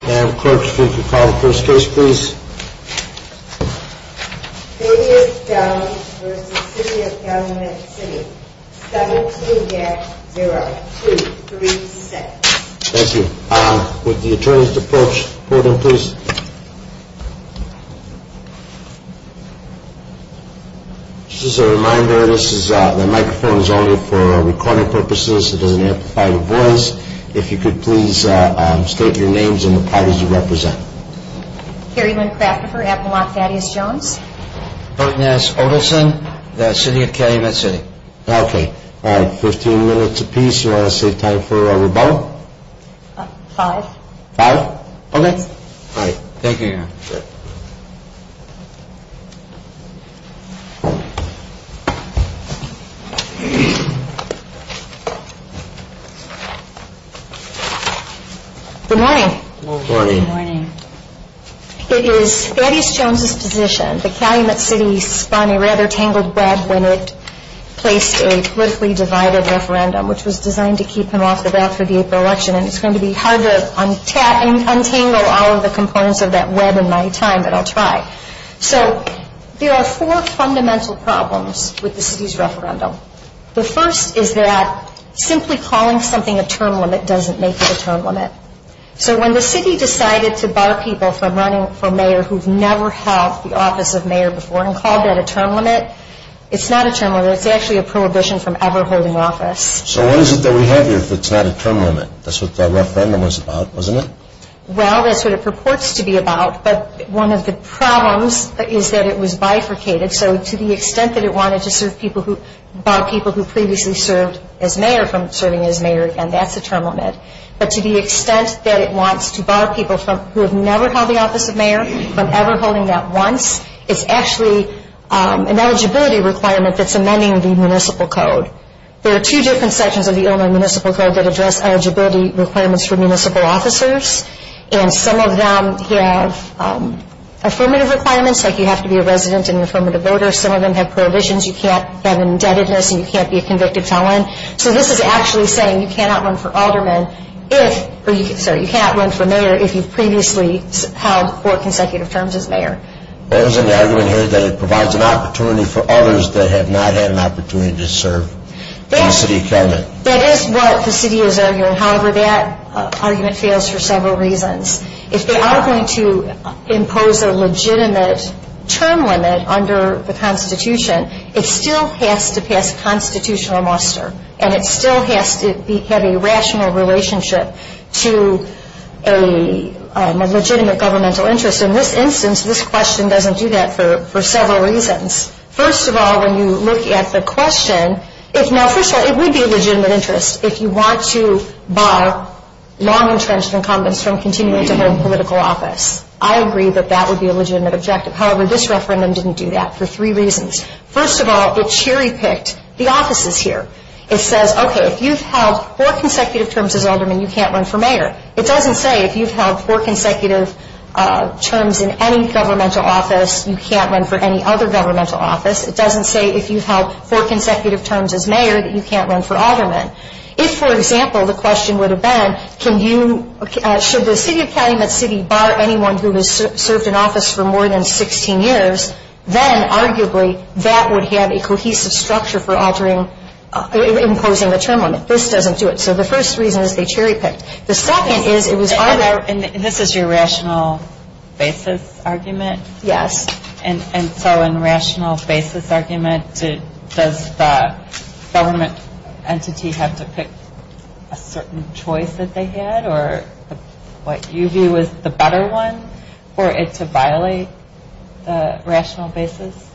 City of Calumet City 17-0236 Thank you. Would the attorneys to approach the podium please? Just as a reminder, the microphone is only for recording purposes. It doesn't amplify the voice. If you could please state your names and the parties you represent. Carrie Lynn Crafterford, Appalachian Thaddeus Jones Burt Ness Odelson, the City of Calumet City Okay. Alright, 15 minutes apiece. You want to save time for rebuttal? Five. Five? Okay. Thank you, Your Honor. Good morning. Good morning. It is Thaddeus Jones' position that Calumet City spun a rather tangled web when it placed a politically divided referendum, which was designed to keep him off the ballot for the April election. And it's going to be hard to untangle all of the components of that web in my time, but I'll try. So there are four fundamental problems with the city's referendum. The first is that simply calling something a term limit doesn't make it a term limit. So when the city decided to bar people from running for mayor who've never held the office of mayor before and called that a term limit, it's not a term limit. It's actually a prohibition from ever holding office. So what is it that we have here if it's not a term limit? That's what the referendum was about, wasn't it? Well, that's what it purports to be about, but one of the problems is that it was bifurcated. So to the extent that it wanted to bar people who previously served as mayor from serving as mayor again, that's a term limit. But to the extent that it wants to bar people who have never held the office of mayor from ever holding that once, it's actually an eligibility requirement that's amending the municipal code. There are two different sections of the Illinois municipal code that address eligibility requirements for municipal officers, and some of them have affirmative requirements, like you have to be a resident and an affirmative voter. Some of them have prohibitions. You can't have indebtedness and you can't be a convicted felon. So this is actually saying you cannot run for mayor if you've previously held four consecutive terms as mayor. What is in the argument here that it provides an opportunity for others that have not had an opportunity to serve in the city government? That is what the city is arguing. However, that argument fails for several reasons. If they are going to impose a legitimate term limit under the Constitution, it still has to pass constitutional muster, and it still has to have a rational relationship to a legitimate governmental interest. In this instance, this question doesn't do that for several reasons. First of all, when you look at the question, it would be a legitimate interest if you want to bar long-entrenched incumbents from continuing to hold political office. I agree that that would be a legitimate objective. However, this referendum didn't do that for three reasons. First of all, it cherry-picked the offices here. It says, okay, if you've held four consecutive terms as alderman, you can't run for mayor. It doesn't say if you've held four consecutive terms in any governmental office, you can't run for any other governmental office. It doesn't say if you've held four consecutive terms as mayor that you can't run for alderman. If, for example, the question would have been, should the City of Calumet City bar anyone who has served in office for more than 16 years, then arguably that would have a cohesive structure for imposing a term limit. This doesn't do it. So the first reason is they cherry-picked. The second is it was arbitrary. And this is your rational basis argument? Yes. And so in rational basis argument, does the government entity have to pick a certain choice that they had or what you view as the better one for it to violate the rational basis?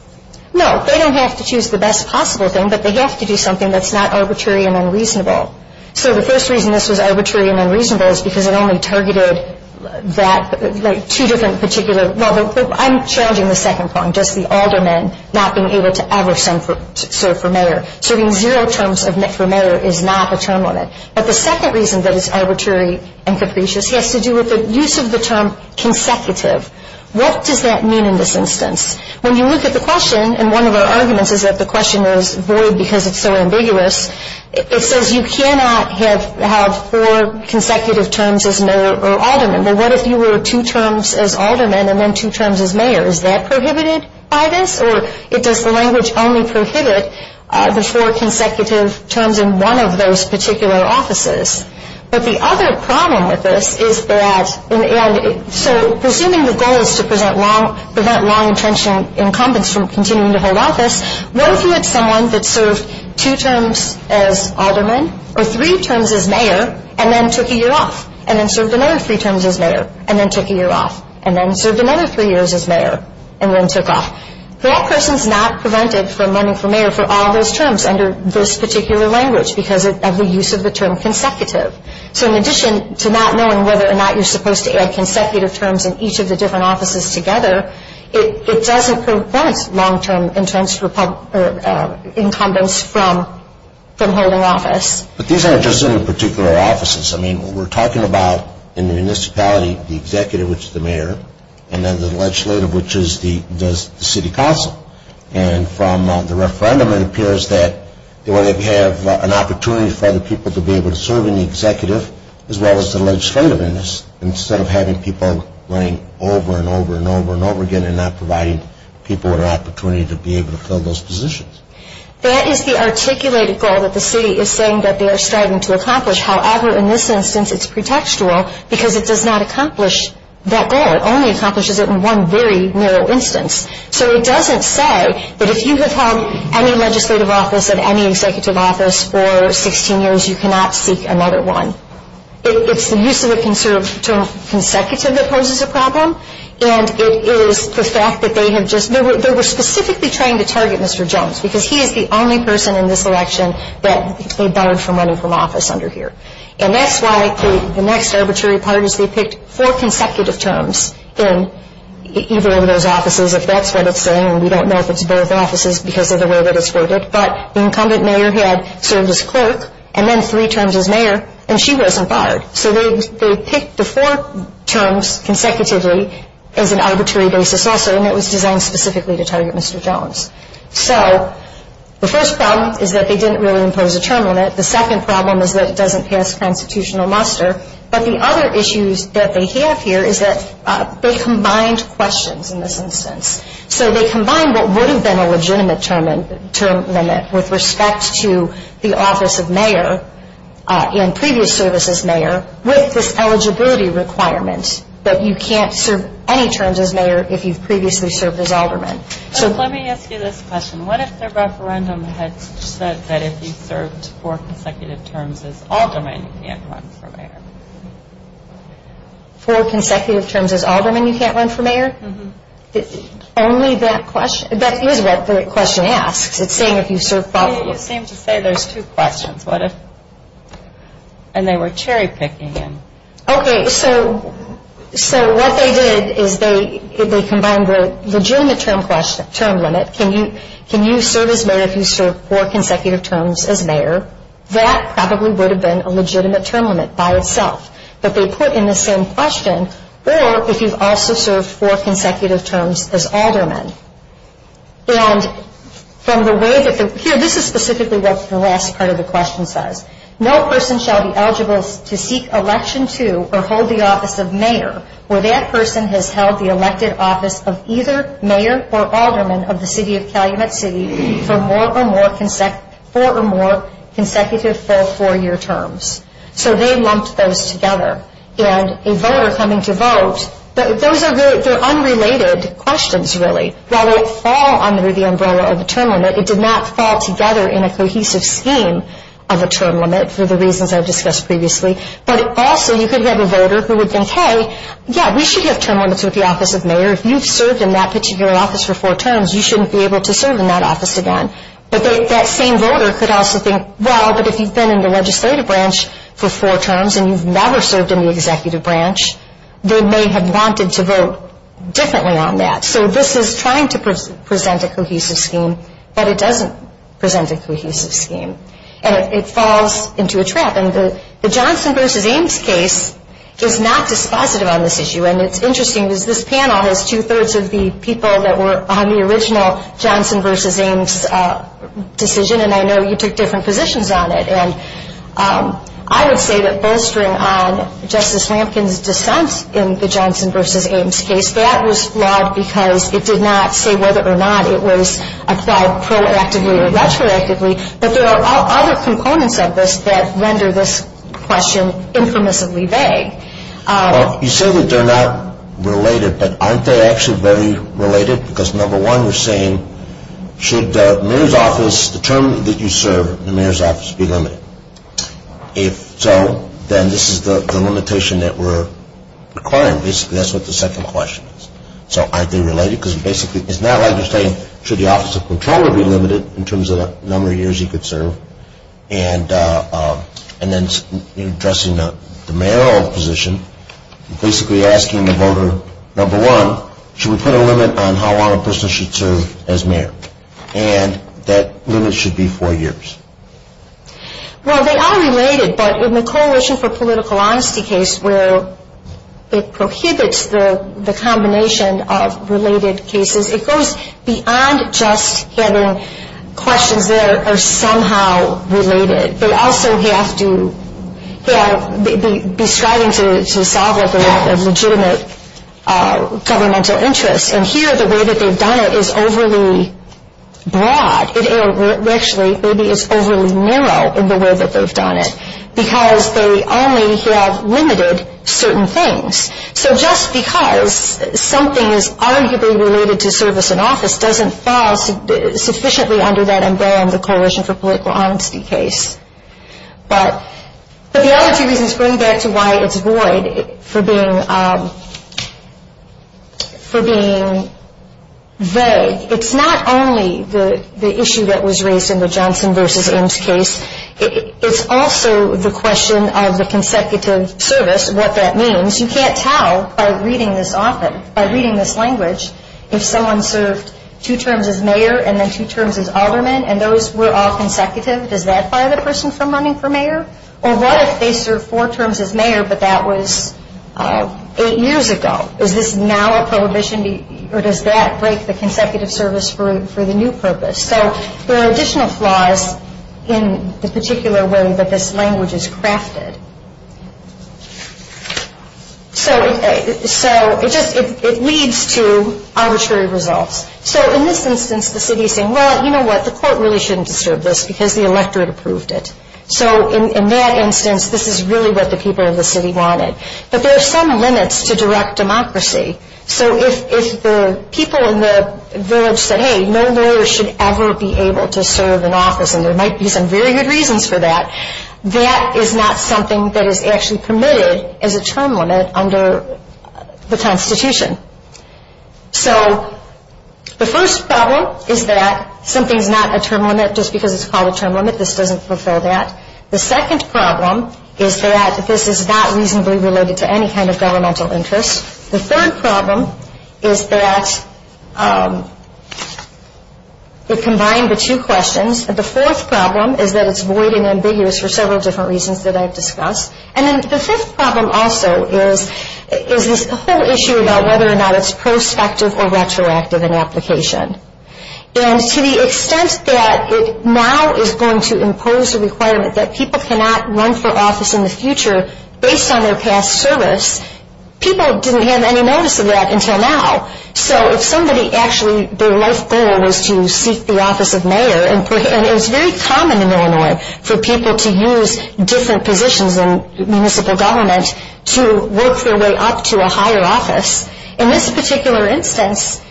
No. They don't have to choose the best possible thing, but they have to do something that's not arbitrary and unreasonable. So the first reason this was arbitrary and unreasonable is because it only targeted that, like, two different particular, well, I'm challenging the second point, just the alderman not being able to ever serve for mayor. Serving zero terms for mayor is not a term limit. But the second reason that it's arbitrary and capricious has to do with the use of the term consecutive. What does that mean in this instance? When you look at the question, and one of our arguments is that the question is void because it's so ambiguous, it says you cannot have four consecutive terms as mayor or alderman. Well, what if you were two terms as alderman and then two terms as mayor? Is that prohibited by this, or does the language only prohibit the four consecutive terms in one of those particular offices? But the other problem with this is that, and so presuming the goal is to prevent long-intentioned incumbents from continuing to hold office, what if you had someone that served two terms as alderman or three terms as mayor and then took a year off and then served another three terms as mayor and then took a year off and then served another three years as mayor and then took off? That person's not prevented from running for mayor for all those terms under this particular language because of the use of the term consecutive. So in addition to not knowing whether or not you're supposed to add consecutive terms in each of the different offices together, it doesn't prevent long-term intents incumbents from holding office. But these aren't just in particular offices. I mean, we're talking about in the municipality the executive, which is the mayor, and then the legislative, which is the city council. And from the referendum, it appears that they want to have an opportunity for other people to be able to serve in the executive as well as the legislative in this instead of having people running over and over and over and over again and not providing people with an opportunity to be able to fill those positions. That is the articulated goal that the city is saying that they are striving to accomplish. However, in this instance, it's pretextual because it does not accomplish that goal. It only accomplishes it in one very narrow instance. So it doesn't say that if you have held any legislative office in any executive office for 16 years, you cannot seek another one. It's the use of the term consecutive that poses a problem, and it is the fact that they have just ñ they were specifically trying to target Mr. Jones because he is the only person in this election that they barred from running from office under here. And that's why the next arbitrary part is they picked four consecutive terms in either of those offices. If that's what it's saying, and we don't know if it's both offices because of the way that it's worded, but the incumbent mayor had served as clerk and then three terms as mayor, and she wasn't barred. So they picked the four terms consecutively as an arbitrary basis also, and it was designed specifically to target Mr. Jones. So the first problem is that they didn't really impose a term on it. The second problem is that it doesn't pass constitutional muster. But the other issues that they have here is that they combined questions in this instance. So they combined what would have been a legitimate term limit with respect to the office of mayor and previous service as mayor with this eligibility requirement that you can't serve any terms as mayor if you've previously served as alderman. So let me ask you this question. What if the referendum had said that if you served four consecutive terms as alderman, you can't run for mayor? Four consecutive terms as alderman, you can't run for mayor? Mm-hmm. Only that question, that is what the question asks. It's saying if you've served probably. You seem to say there's two questions. What if, and they were cherry picking. Okay, so what they did is they combined the legitimate term limit. Can you serve as mayor if you serve four consecutive terms as mayor? That probably would have been a legitimate term limit by itself. But they put in the same question, or if you've also served four consecutive terms as alderman. And from the way that the, here, this is specifically what the last part of the question says. No person shall be eligible to seek election to or hold the office of mayor where that person has held the elected office of either mayor or alderman of the city of Calumet City for more or more consecutive full four-year terms. So they lumped those together. And a voter coming to vote, those are unrelated questions really. While they fall under the umbrella of a term limit, it did not fall together in a cohesive scheme of a term limit for the reasons I've discussed previously. But also you could have a voter who would think, hey, yeah, we should have term limits with the office of mayor. If you've served in that particular office for four terms, you shouldn't be able to serve in that office again. But that same voter could also think, well, but if you've been in the legislative branch for four terms and you've never served in the executive branch, they may have wanted to vote differently on that. So this is trying to present a cohesive scheme, but it doesn't present a cohesive scheme. And it falls into a trap. And the Johnson v. Ames case is not dispositive on this issue. And it's interesting because this panel has two-thirds of the people that were on the original Johnson v. Ames decision, and I know you took different positions on it. And I would say that bolstering on Justice Lampkin's dissent in the Johnson v. Ames case, that was flawed because it did not say whether or not it was applied proactively or retroactively. But there are other components of this that render this question infamously vague. Well, you say that they're not related, but aren't they actually very related? Because number one, you're saying should the mayor's office, the term that you serve in the mayor's office, be limited? If so, then this is the limitation that we're requiring. Well, basically that's what the second question is. So aren't they related? Because basically it's not like you're saying should the office of comptroller be limited in terms of the number of years he could serve? And then addressing the mayoral position, basically asking the voter, number one, should we put a limit on how long a person should serve as mayor? And that limit should be four years. Well, they are related, but in the Coalition for Political Honesty case where it prohibits the combination of related cases, it goes beyond just having questions that are somehow related. They also have to be striving to solve a legitimate governmental interest. And here the way that they've done it is overly broad. It actually maybe is overly narrow in the way that they've done it because they only have limited certain things. So just because something is arguably related to service in office doesn't fall sufficiently under that umbrella in the Coalition for Political Honesty case. But the other two reasons bring back to why it's void for being vague. It's not only the issue that was raised in the Johnson v. Ims case. It's also the question of the consecutive service, what that means. You can't tell by reading this often, by reading this language, if someone served two terms as mayor and then two terms as alderman and those were all consecutive. Does that fire the person from running for mayor? Or what if they served four terms as mayor but that was eight years ago? Is this now a prohibition? Or does that break the consecutive service for the new purpose? So there are additional flaws in the particular way that this language is crafted. So it leads to arbitrary results. So in this instance, the city is saying, well, you know what, the court really shouldn't disturb this because the electorate approved it. So in that instance, this is really what the people of the city wanted. But there are some limits to direct democracy. So if the people in the village said, hey, no lawyer should ever be able to serve in office, and there might be some very good reasons for that, that is not something that is actually permitted as a term limit under the Constitution. So the first problem is that something is not a term limit just because it's called a term limit. This doesn't fulfill that. The second problem is that this is not reasonably related to any kind of governmental interest. The third problem is that it combined the two questions. The fourth problem is that it's void and ambiguous for several different reasons that I've discussed. And then the fifth problem also is this whole issue about whether or not it's prospective or retroactive in application. And to the extent that it now is going to impose a requirement that people cannot run for office in the future based on their past service, people didn't have any notice of that until now. So if somebody actually, their life goal was to seek the office of mayor, and it's very common in Illinois for people to use different positions in municipal government to work their way up to a higher office. In this particular instance,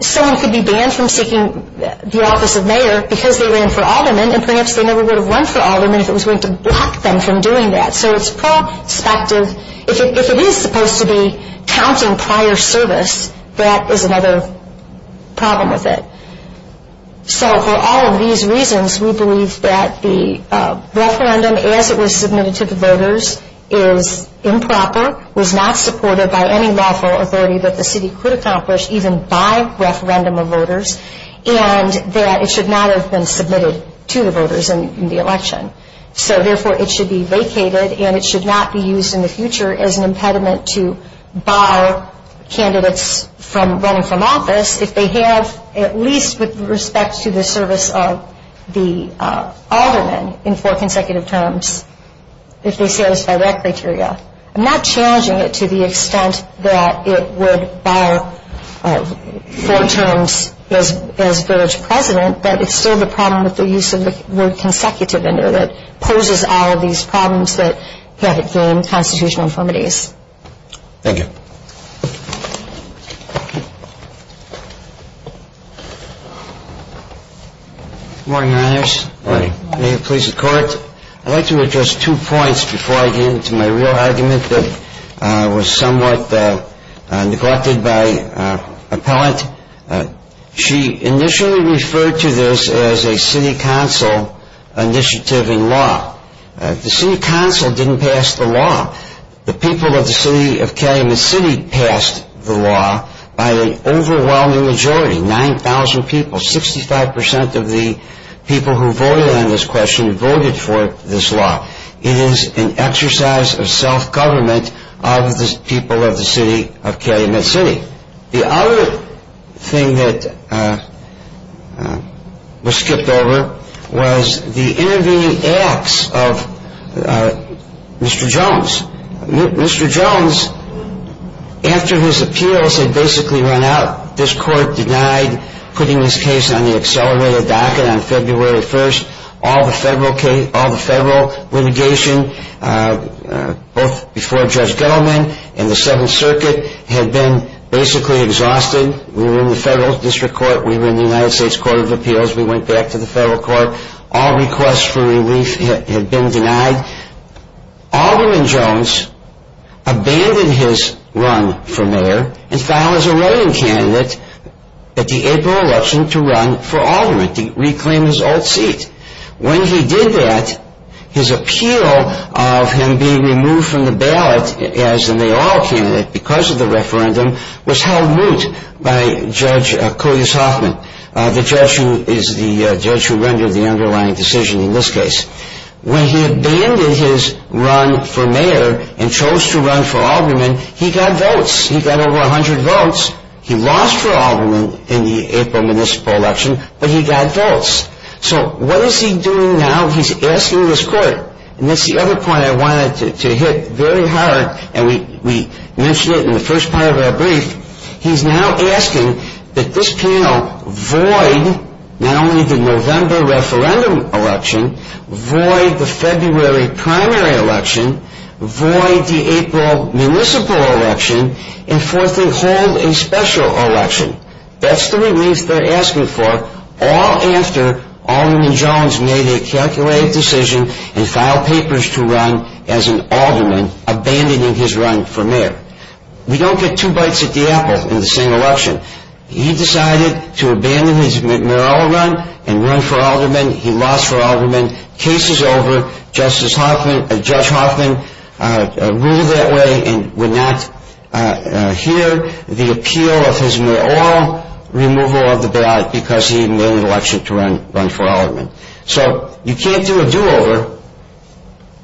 someone could be banned from seeking the office of mayor because they ran for alderman, and perhaps they never would have run for alderman if it was going to block them from doing that. So it's prospective. If it is supposed to be counting prior service, that is another problem with it. So for all of these reasons, we believe that the referendum, as it was submitted to the voters, is improper, was not supported by any lawful authority that the city could accomplish even by referendum of voters, and that it should not have been submitted to the voters in the election. So therefore, it should be vacated, and it should not be used in the future as an impediment to bar candidates from running from office if they have at least with respect to the service of the alderman in four consecutive terms, if they satisfy that criteria. I'm not challenging it to the extent that it would bar four terms as village president, but it's still the problem with the use of the word consecutive in there that poses all of these problems that have gained constitutional infirmities. Thank you. Good morning, Your Honors. Good morning. May it please the Court. I'd like to address two points before I get into my real argument that was somewhat neglected by Appellant. She initially referred to this as a city council initiative in law. The city council didn't pass the law. The people of the city of Calumet City passed the law by an overwhelming majority, 9,000 people, so 65% of the people who voted on this question voted for this law. It is an exercise of self-government of the people of the city of Calumet City. The other thing that was skipped over was the intervening acts of Mr. Jones. Mr. Jones, after his appeals had basically run out, this Court denied putting this case on the accelerated docket on February 1st. All the federal litigation, both before Judge Gettleman and the Seventh Circuit, had been basically exhausted. We were in the federal district court. We were in the United States Court of Appeals. We went back to the federal court. All requests for relief had been denied. Alderman Jones abandoned his run for mayor and filed as a voting candidate at the April election to run for alderman, to reclaim his old seat. When he did that, his appeal of him being removed from the ballot as the mayoral candidate because of the referendum was held moot by Judge Cody Soffman, the judge who rendered the underlying decision in this case. When he abandoned his run for mayor and chose to run for alderman, he got votes. He got over 100 votes. He lost for alderman in the April municipal election, but he got votes. So what is he doing now? He's asking this Court. And that's the other point I wanted to hit very hard, and we mentioned it in the first part of our brief. He's now asking that this panel void not only the November referendum election, void the February primary election, void the April municipal election, and fourthly, hold a special election. That's the relief they're asking for, all after Alderman Jones made a calculated decision and filed papers to run as an alderman, abandoning his run for mayor. We don't get two bites at the apple in the same election. He decided to abandon his mayoral run and run for alderman. He lost for alderman. Case is over. Judge Hoffman ruled that way and would not hear the appeal of his mayoral removal of the ballot because he had made an election to run for alderman. So you can't do a do-over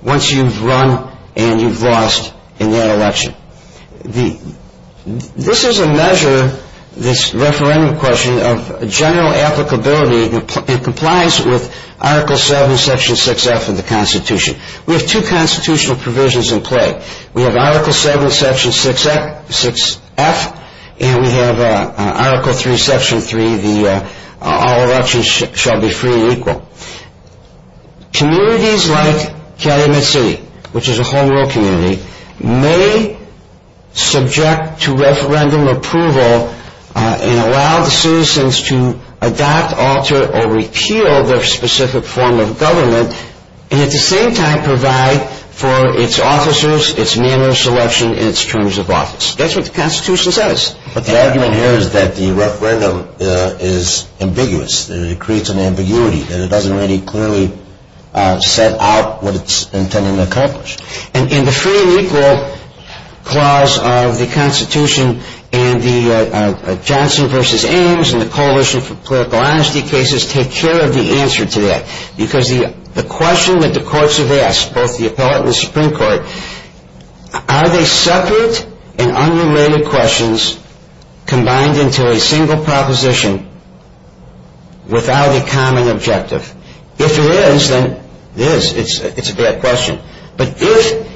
once you've run and you've lost in that election. This is a measure, this referendum question, of general applicability and complies with Article 7, Section 6F of the Constitution. We have two constitutional provisions in play. We have Article 7, Section 6F, and we have Article 3, Section 3, the all elections shall be free and equal. Communities like Calumet City, which is a whole rural community, may subject to referendum approval and allow the citizens to adopt, alter, or repeal their specific form of government, and at the same time provide for its officers, its manner of selection, and its terms of office. That's what the Constitution says. But the argument here is that the referendum is ambiguous. It creates an ambiguity and it doesn't really clearly set out what it's intending to accomplish. And the free and equal clause of the Constitution and the Johnson v. Ames and the Coalition for Political Honesty cases take care of the answer to that. Because the question that the courts have asked, both the appellate and the Supreme Court, are they separate and unrelated questions combined into a single proposition without a common objective? If it is, then it is. It's a bad question. But if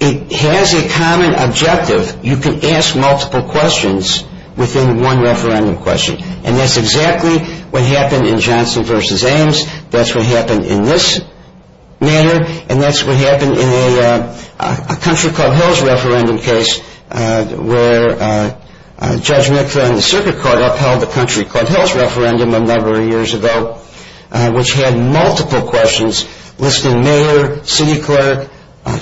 it has a common objective, you can ask multiple questions within one referendum question. And that's exactly what happened in Johnson v. Ames. That's what happened in this matter. And that's what happened in a Country Club Hills referendum case, where Judge McClain, the circuit court, upheld the Country Club Hills referendum a number of years ago, which had multiple questions listing mayor, city clerk,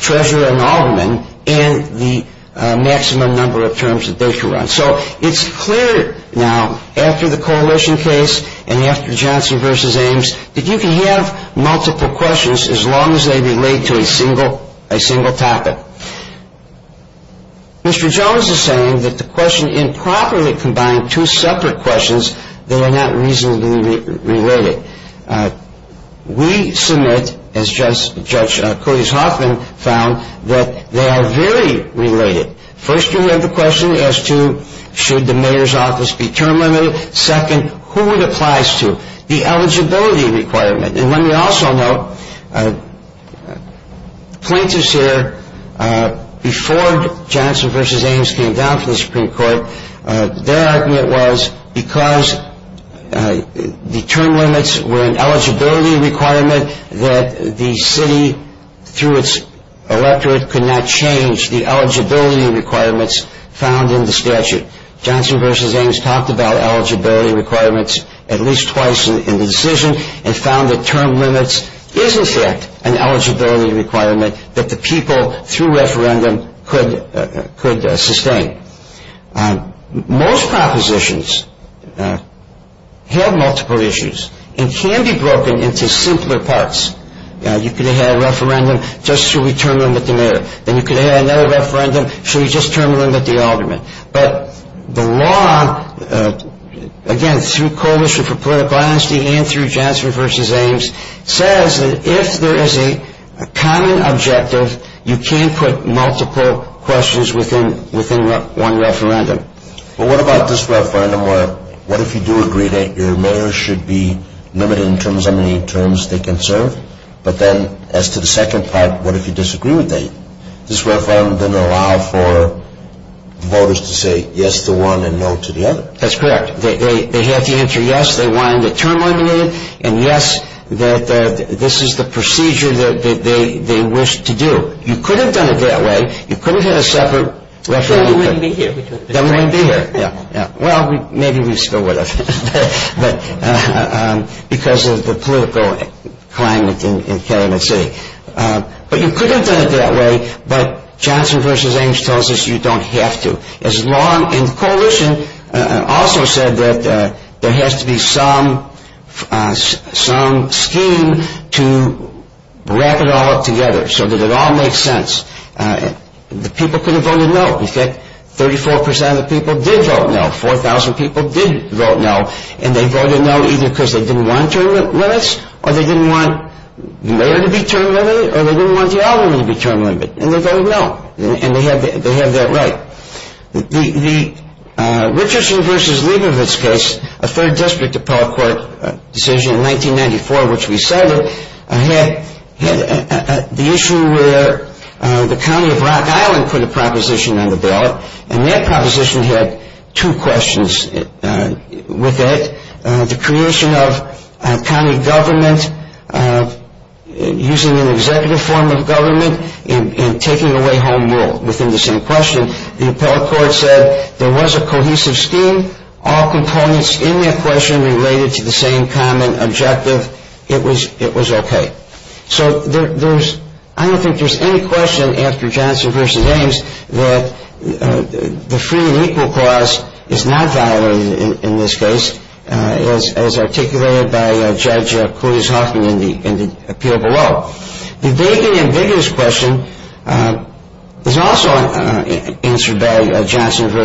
treasurer, and alderman, and the maximum number of terms that they could run. So it's clear now, after the Coalition case and after Johnson v. Ames, that you can have multiple questions as long as they relate to a single topic. Mr. Jones is saying that the question improperly combined two separate questions that are not reasonably related. We submit, as Judge Cody Hoffman found, that they are very related. First, you have the question as to should the mayor's office be term limited? Second, who it applies to, the eligibility requirement. And let me also note, plaintiffs here, before Johnson v. Ames came down to the Supreme Court, their argument was because the term limits were an eligibility requirement that the city, through its electorate, could not change the eligibility requirements found in the statute. Johnson v. Ames talked about eligibility requirements at least twice in the decision and found that term limits is, in fact, an eligibility requirement that the people, through referendum, could sustain. Most propositions have multiple issues and can be broken into simpler parts. You could have a referendum, just should we term limit the mayor? Then you could have another referendum, should we just term limit the alderman? But the law, again, through Coalition for Political Honesty and through Johnson v. Ames, says that if there is a common objective, you can't put multiple questions within one referendum. But what about this referendum where, what if you do agree that your mayor should be limited in terms of how many terms they can serve? But then, as to the second part, what if you disagree with that? This referendum doesn't allow for voters to say yes to one and no to the other. That's correct. They have to answer yes, they want to term limit it, and yes, this is the procedure that they wish to do. You could have done it that way. You could have had a separate referendum. Then we wouldn't be here. Then we wouldn't be here. Well, maybe we still would have, because of the political climate in Calumet City. But you could have done it that way, but Johnson v. Ames tells us you don't have to. Coalition also said that there has to be some scheme to wrap it all up together so that it all makes sense. The people could have voted no. In fact, 34% of the people did vote no. 4,000 people did vote no, and they voted no either because they didn't want term limits, or they didn't want the mayor to be term limited, or they didn't want the alderman to be term limited. And they voted no, and they have that right. The Richardson v. Leibovitz case, a third district appellate court decision in 1994, which we cited, had the issue where the county of Rock Island put a proposition on the ballot, and that proposition had two questions with it. The creation of county government using an executive form of government and taking away home rule within the same question. The appellate court said there was a cohesive scheme. All components in that question related to the same common objective. It was okay. So I don't think there's any question after Johnson v. Ames that the free and equal clause is not violated in this case. As articulated by Judge Coulis-Hoffman in the appeal below. The vague and ambiguous question is also answered by Johnson v.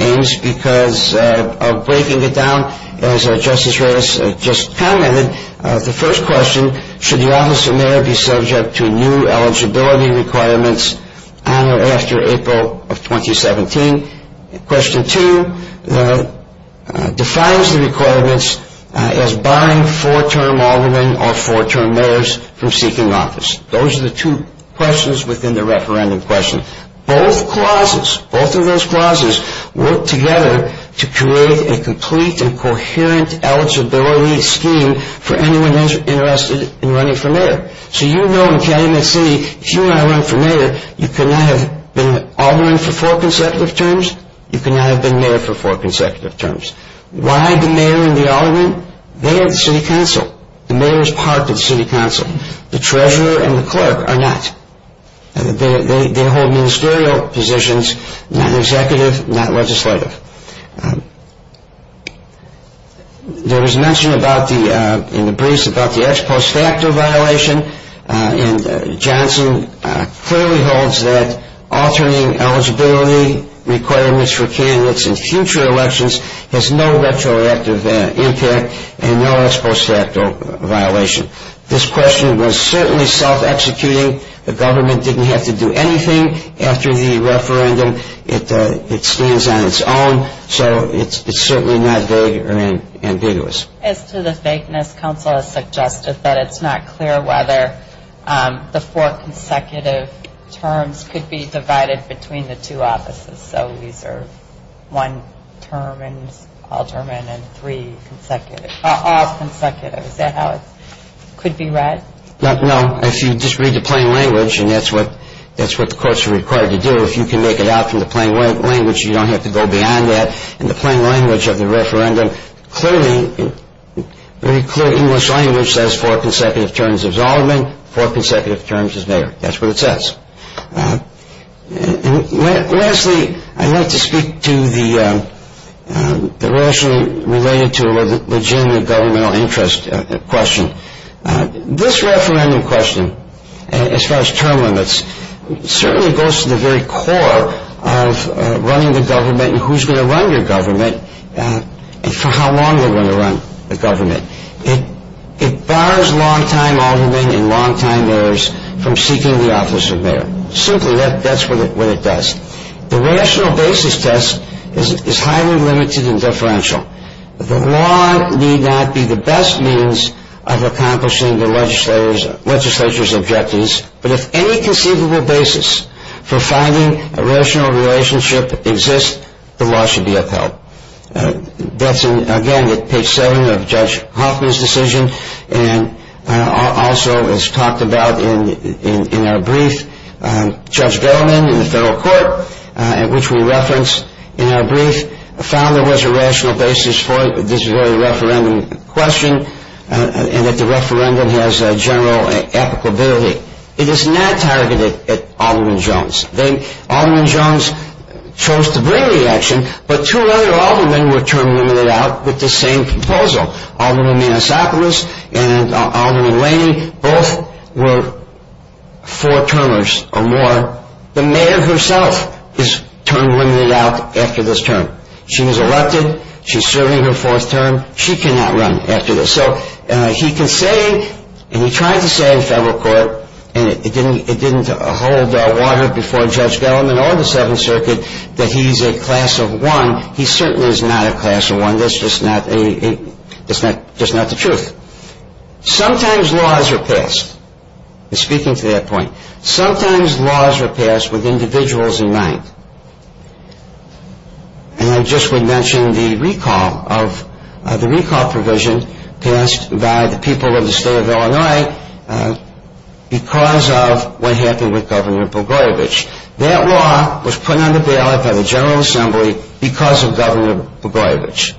Ames because of breaking it down, as Justice Reyes just commented. The first question, should the office of mayor be subject to new eligibility requirements on or after April of 2017? Question two defines the requirements as barring four-term aldermen or four-term mayors from seeking office. Those are the two questions within the referendum question. Both clauses, both of those clauses work together to create a complete and coherent eligibility scheme for anyone who's interested in running for mayor. So you know in Calumet City, if you want to run for mayor, you cannot have been an alderman for four consecutive terms. You cannot have been mayor for four consecutive terms. Why the mayor and the alderman? They are the city council. The mayor is part of the city council. The treasurer and the clerk are not. They hold ministerial positions, not executive, not legislative. There was mention in the briefs about the ex post facto violation, and Johnson clearly holds that altering eligibility requirements for candidates in future elections has no retroactive impact and no ex post facto violation. This question was certainly self-executing. The government didn't have to do anything after the referendum. It stands on its own, so it's certainly not vague or ambiguous. As to the vagueness, council has suggested that it's not clear whether the four consecutive terms could be divided between the two offices. So these are one term and alderman and three consecutive, all consecutive. Is that how it could be read? No. If you just read the plain language, and that's what the courts are required to do, if you can make it out from the plain language, you don't have to go beyond that. In the plain language of the referendum, clearly, very clear English language says four consecutive terms is alderman, four consecutive terms is mayor. That's what it says. Lastly, I'd like to speak to the rationally related to a legitimate governmental interest question. This referendum question, as far as term limits, certainly goes to the very core of running the government and who's going to run your government and for how long they're going to run the government. It bars long-time aldermen and long-time mayors from seeking the office of mayor. Simply, that's what it does. The law need not be the best means of accomplishing the legislature's objectives, but if any conceivable basis for finding a rational relationship exists, the law should be upheld. That's, again, at page 7 of Judge Hoffman's decision, and also as talked about in our brief, Judge Gellman in the federal court, which we reference in our brief, found there was a rational basis for this very referendum question and that the referendum has a general applicability. It is not targeted at Alderman Jones. Alderman Jones chose to bring the action, but two other aldermen were term limited out with the same proposal. Alderman Manisopoulos and Alderman Laney both were four-termers or more. The mayor herself is term limited out after this term. She was elected. She's serving her fourth term. She cannot run after this, so he can say, and he tried to say in federal court, and it didn't hold water before Judge Gellman or the Seventh Circuit, that he's a class of one. He certainly is not a class of one. That's just not the truth. Sometimes laws are passed. I'm speaking to that point. Sometimes laws are passed with individuals in mind. And I just would mention the recall provision passed by the people of the state of Illinois because of what happened with Governor Bogorovic. That law was put on the ballot by the General Assembly because of Governor Bogorovic.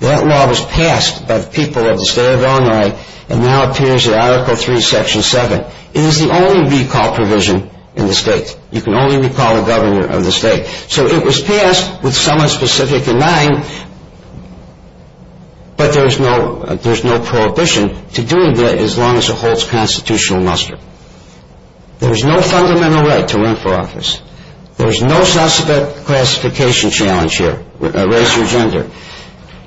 That law was passed by the people of the state of Illinois and now appears in Article 3, Section 7. It is the only recall provision in the state. You can only recall a governor of the state. So it was passed with someone specific in mind, but there's no prohibition to doing that as long as it holds constitutional muster. There's no fundamental right to run for office. There's no suspect classification challenge here, race or gender.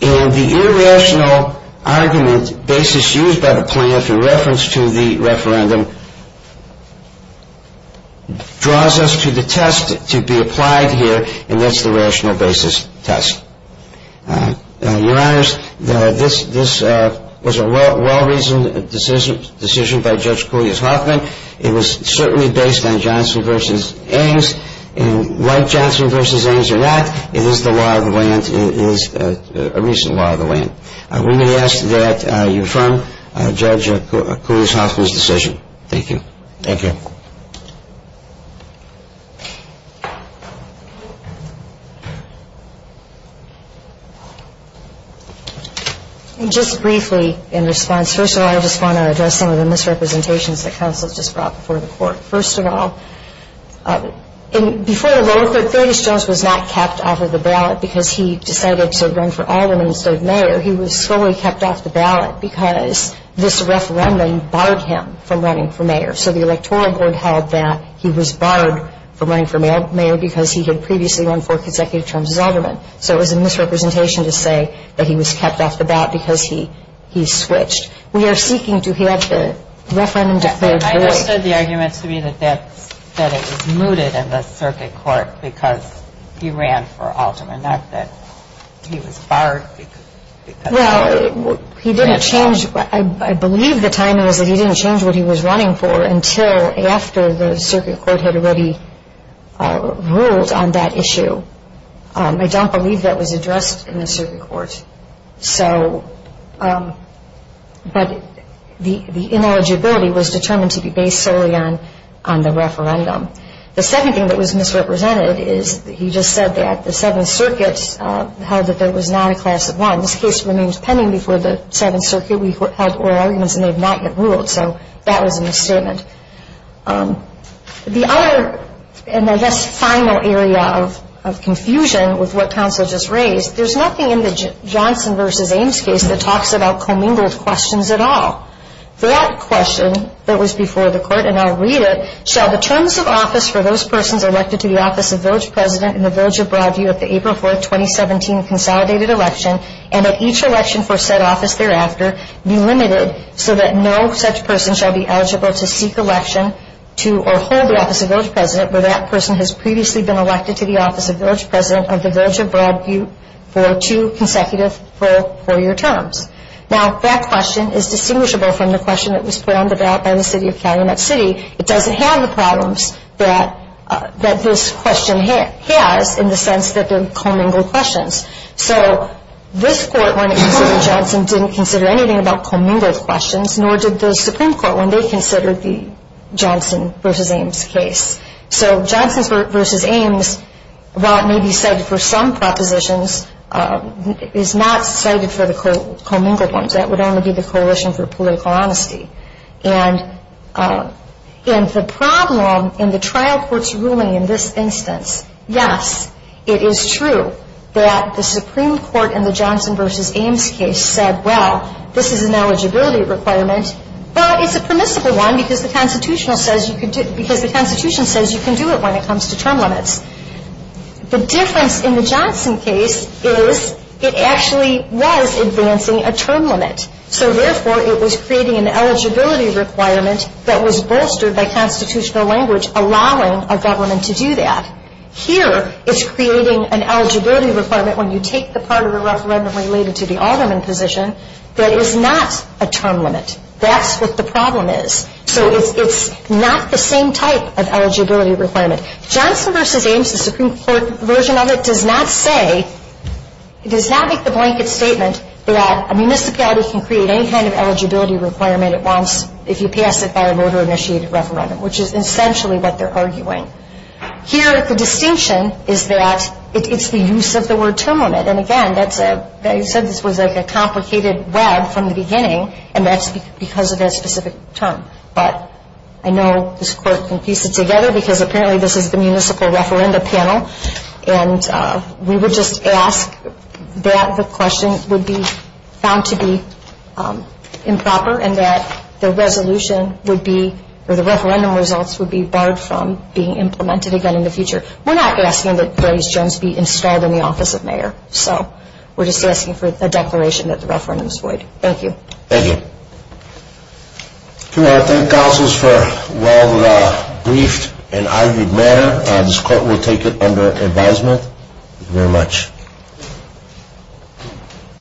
And the irrational argument basis used by the plaintiff in reference to the referendum draws us to the test to be applied here, and that's the rational basis test. Your Honors, this was a well-reasoned decision by Judge Coulias-Hoffman. It was certainly based on Johnson v. Angs. And like Johnson v. Angs or not, it is the law of the land. It is a reasonable law of the land. We may ask that you affirm Judge Coulias-Hoffman's decision. Thank you. Thank you. And just briefly in response, first of all I just want to address some of the misrepresentations that counsel has just brought before the court. First of all, before the vote, 30th Jones was not kept off of the ballot because he decided to run for alderman instead of mayor. He was solely kept off the ballot because this referendum barred him from running for mayor. So the electoral board held that he was barred from running for mayor because he had previously won four consecutive terms as alderman. So it was a misrepresentation to say that he was kept off the ballot because he switched. We are seeking to have the referendum deferred early. I understood the argument to be that it was mooted in the circuit court because he ran for alderman, not that he was barred because he ran for alderman. Well, he didn't change. I believe the timing was that he didn't change what he was running for until after the circuit court had already ruled on that issue. I don't believe that was addressed in the circuit court. But the ineligibility was determined to be based solely on the referendum. The second thing that was misrepresented is that he just said that the Seventh Circuit held that there was not a class of one. This case remains pending before the Seventh Circuit. We've had oral arguments and they have not yet ruled. So that was a misstatement. The other and I guess final area of confusion with what counsel just raised, there's nothing in the Johnson v. Ames case that talks about commingled questions at all. That question that was before the court, and I'll read it, shall the terms of office for those persons elected to the office of village president in the village of Broadview at the April 4, 2017, consolidated election and at each election for said office thereafter be limited so that no such person shall be eligible to seek election to or hold the office of village president where that person has previously been elected to the office of village president of the village of Broadview for two consecutive four-year terms. Now that question is distinguishable from the question that was put on the ballot by the city of Calumet City. It doesn't have the problems that this question has in the sense that they're commingled questions. So this court when it considered Johnson didn't consider anything about commingled questions nor did the Supreme Court when they considered the Johnson v. Ames case. So Johnson v. Ames, while it may be cited for some propositions, is not cited for the commingled ones. That would only be the Coalition for Political Honesty. And the problem in the trial court's ruling in this instance, yes, it is true that the Supreme Court in the Johnson v. Ames case said, well, this is an eligibility requirement, but it's a permissible one because the Constitution says you can do it when it comes to term limits. The difference in the Johnson case is it actually was advancing a term limit. So therefore it was creating an eligibility requirement that was bolstered by constitutional language allowing a government to do that. Here it's creating an eligibility requirement when you take the part of the referendum related to the alderman position that is not a term limit. That's what the problem is. So it's not the same type of eligibility requirement. Johnson v. Ames, the Supreme Court version of it, does not say, does not make the blanket statement that a municipality can create any kind of eligibility requirement if you pass it by a voter-initiated referendum, which is essentially what they're arguing. Here the distinction is that it's the use of the word term limit. And again, you said this was like a complicated web from the beginning, and that's because of that specific term. But I know this court can piece it together because apparently this is the municipal referenda panel, and we would just ask that the question would be found to be improper and that the referendum results would be barred from being implemented again in the future. We're not asking that Gray's Jones be installed in the office of mayor. So we're just asking for a declaration that the referendum is void. Thank you. Thank you. I want to thank counsels for a well-briefed and argued matter, and this court will take it under advisement. Thank you very much.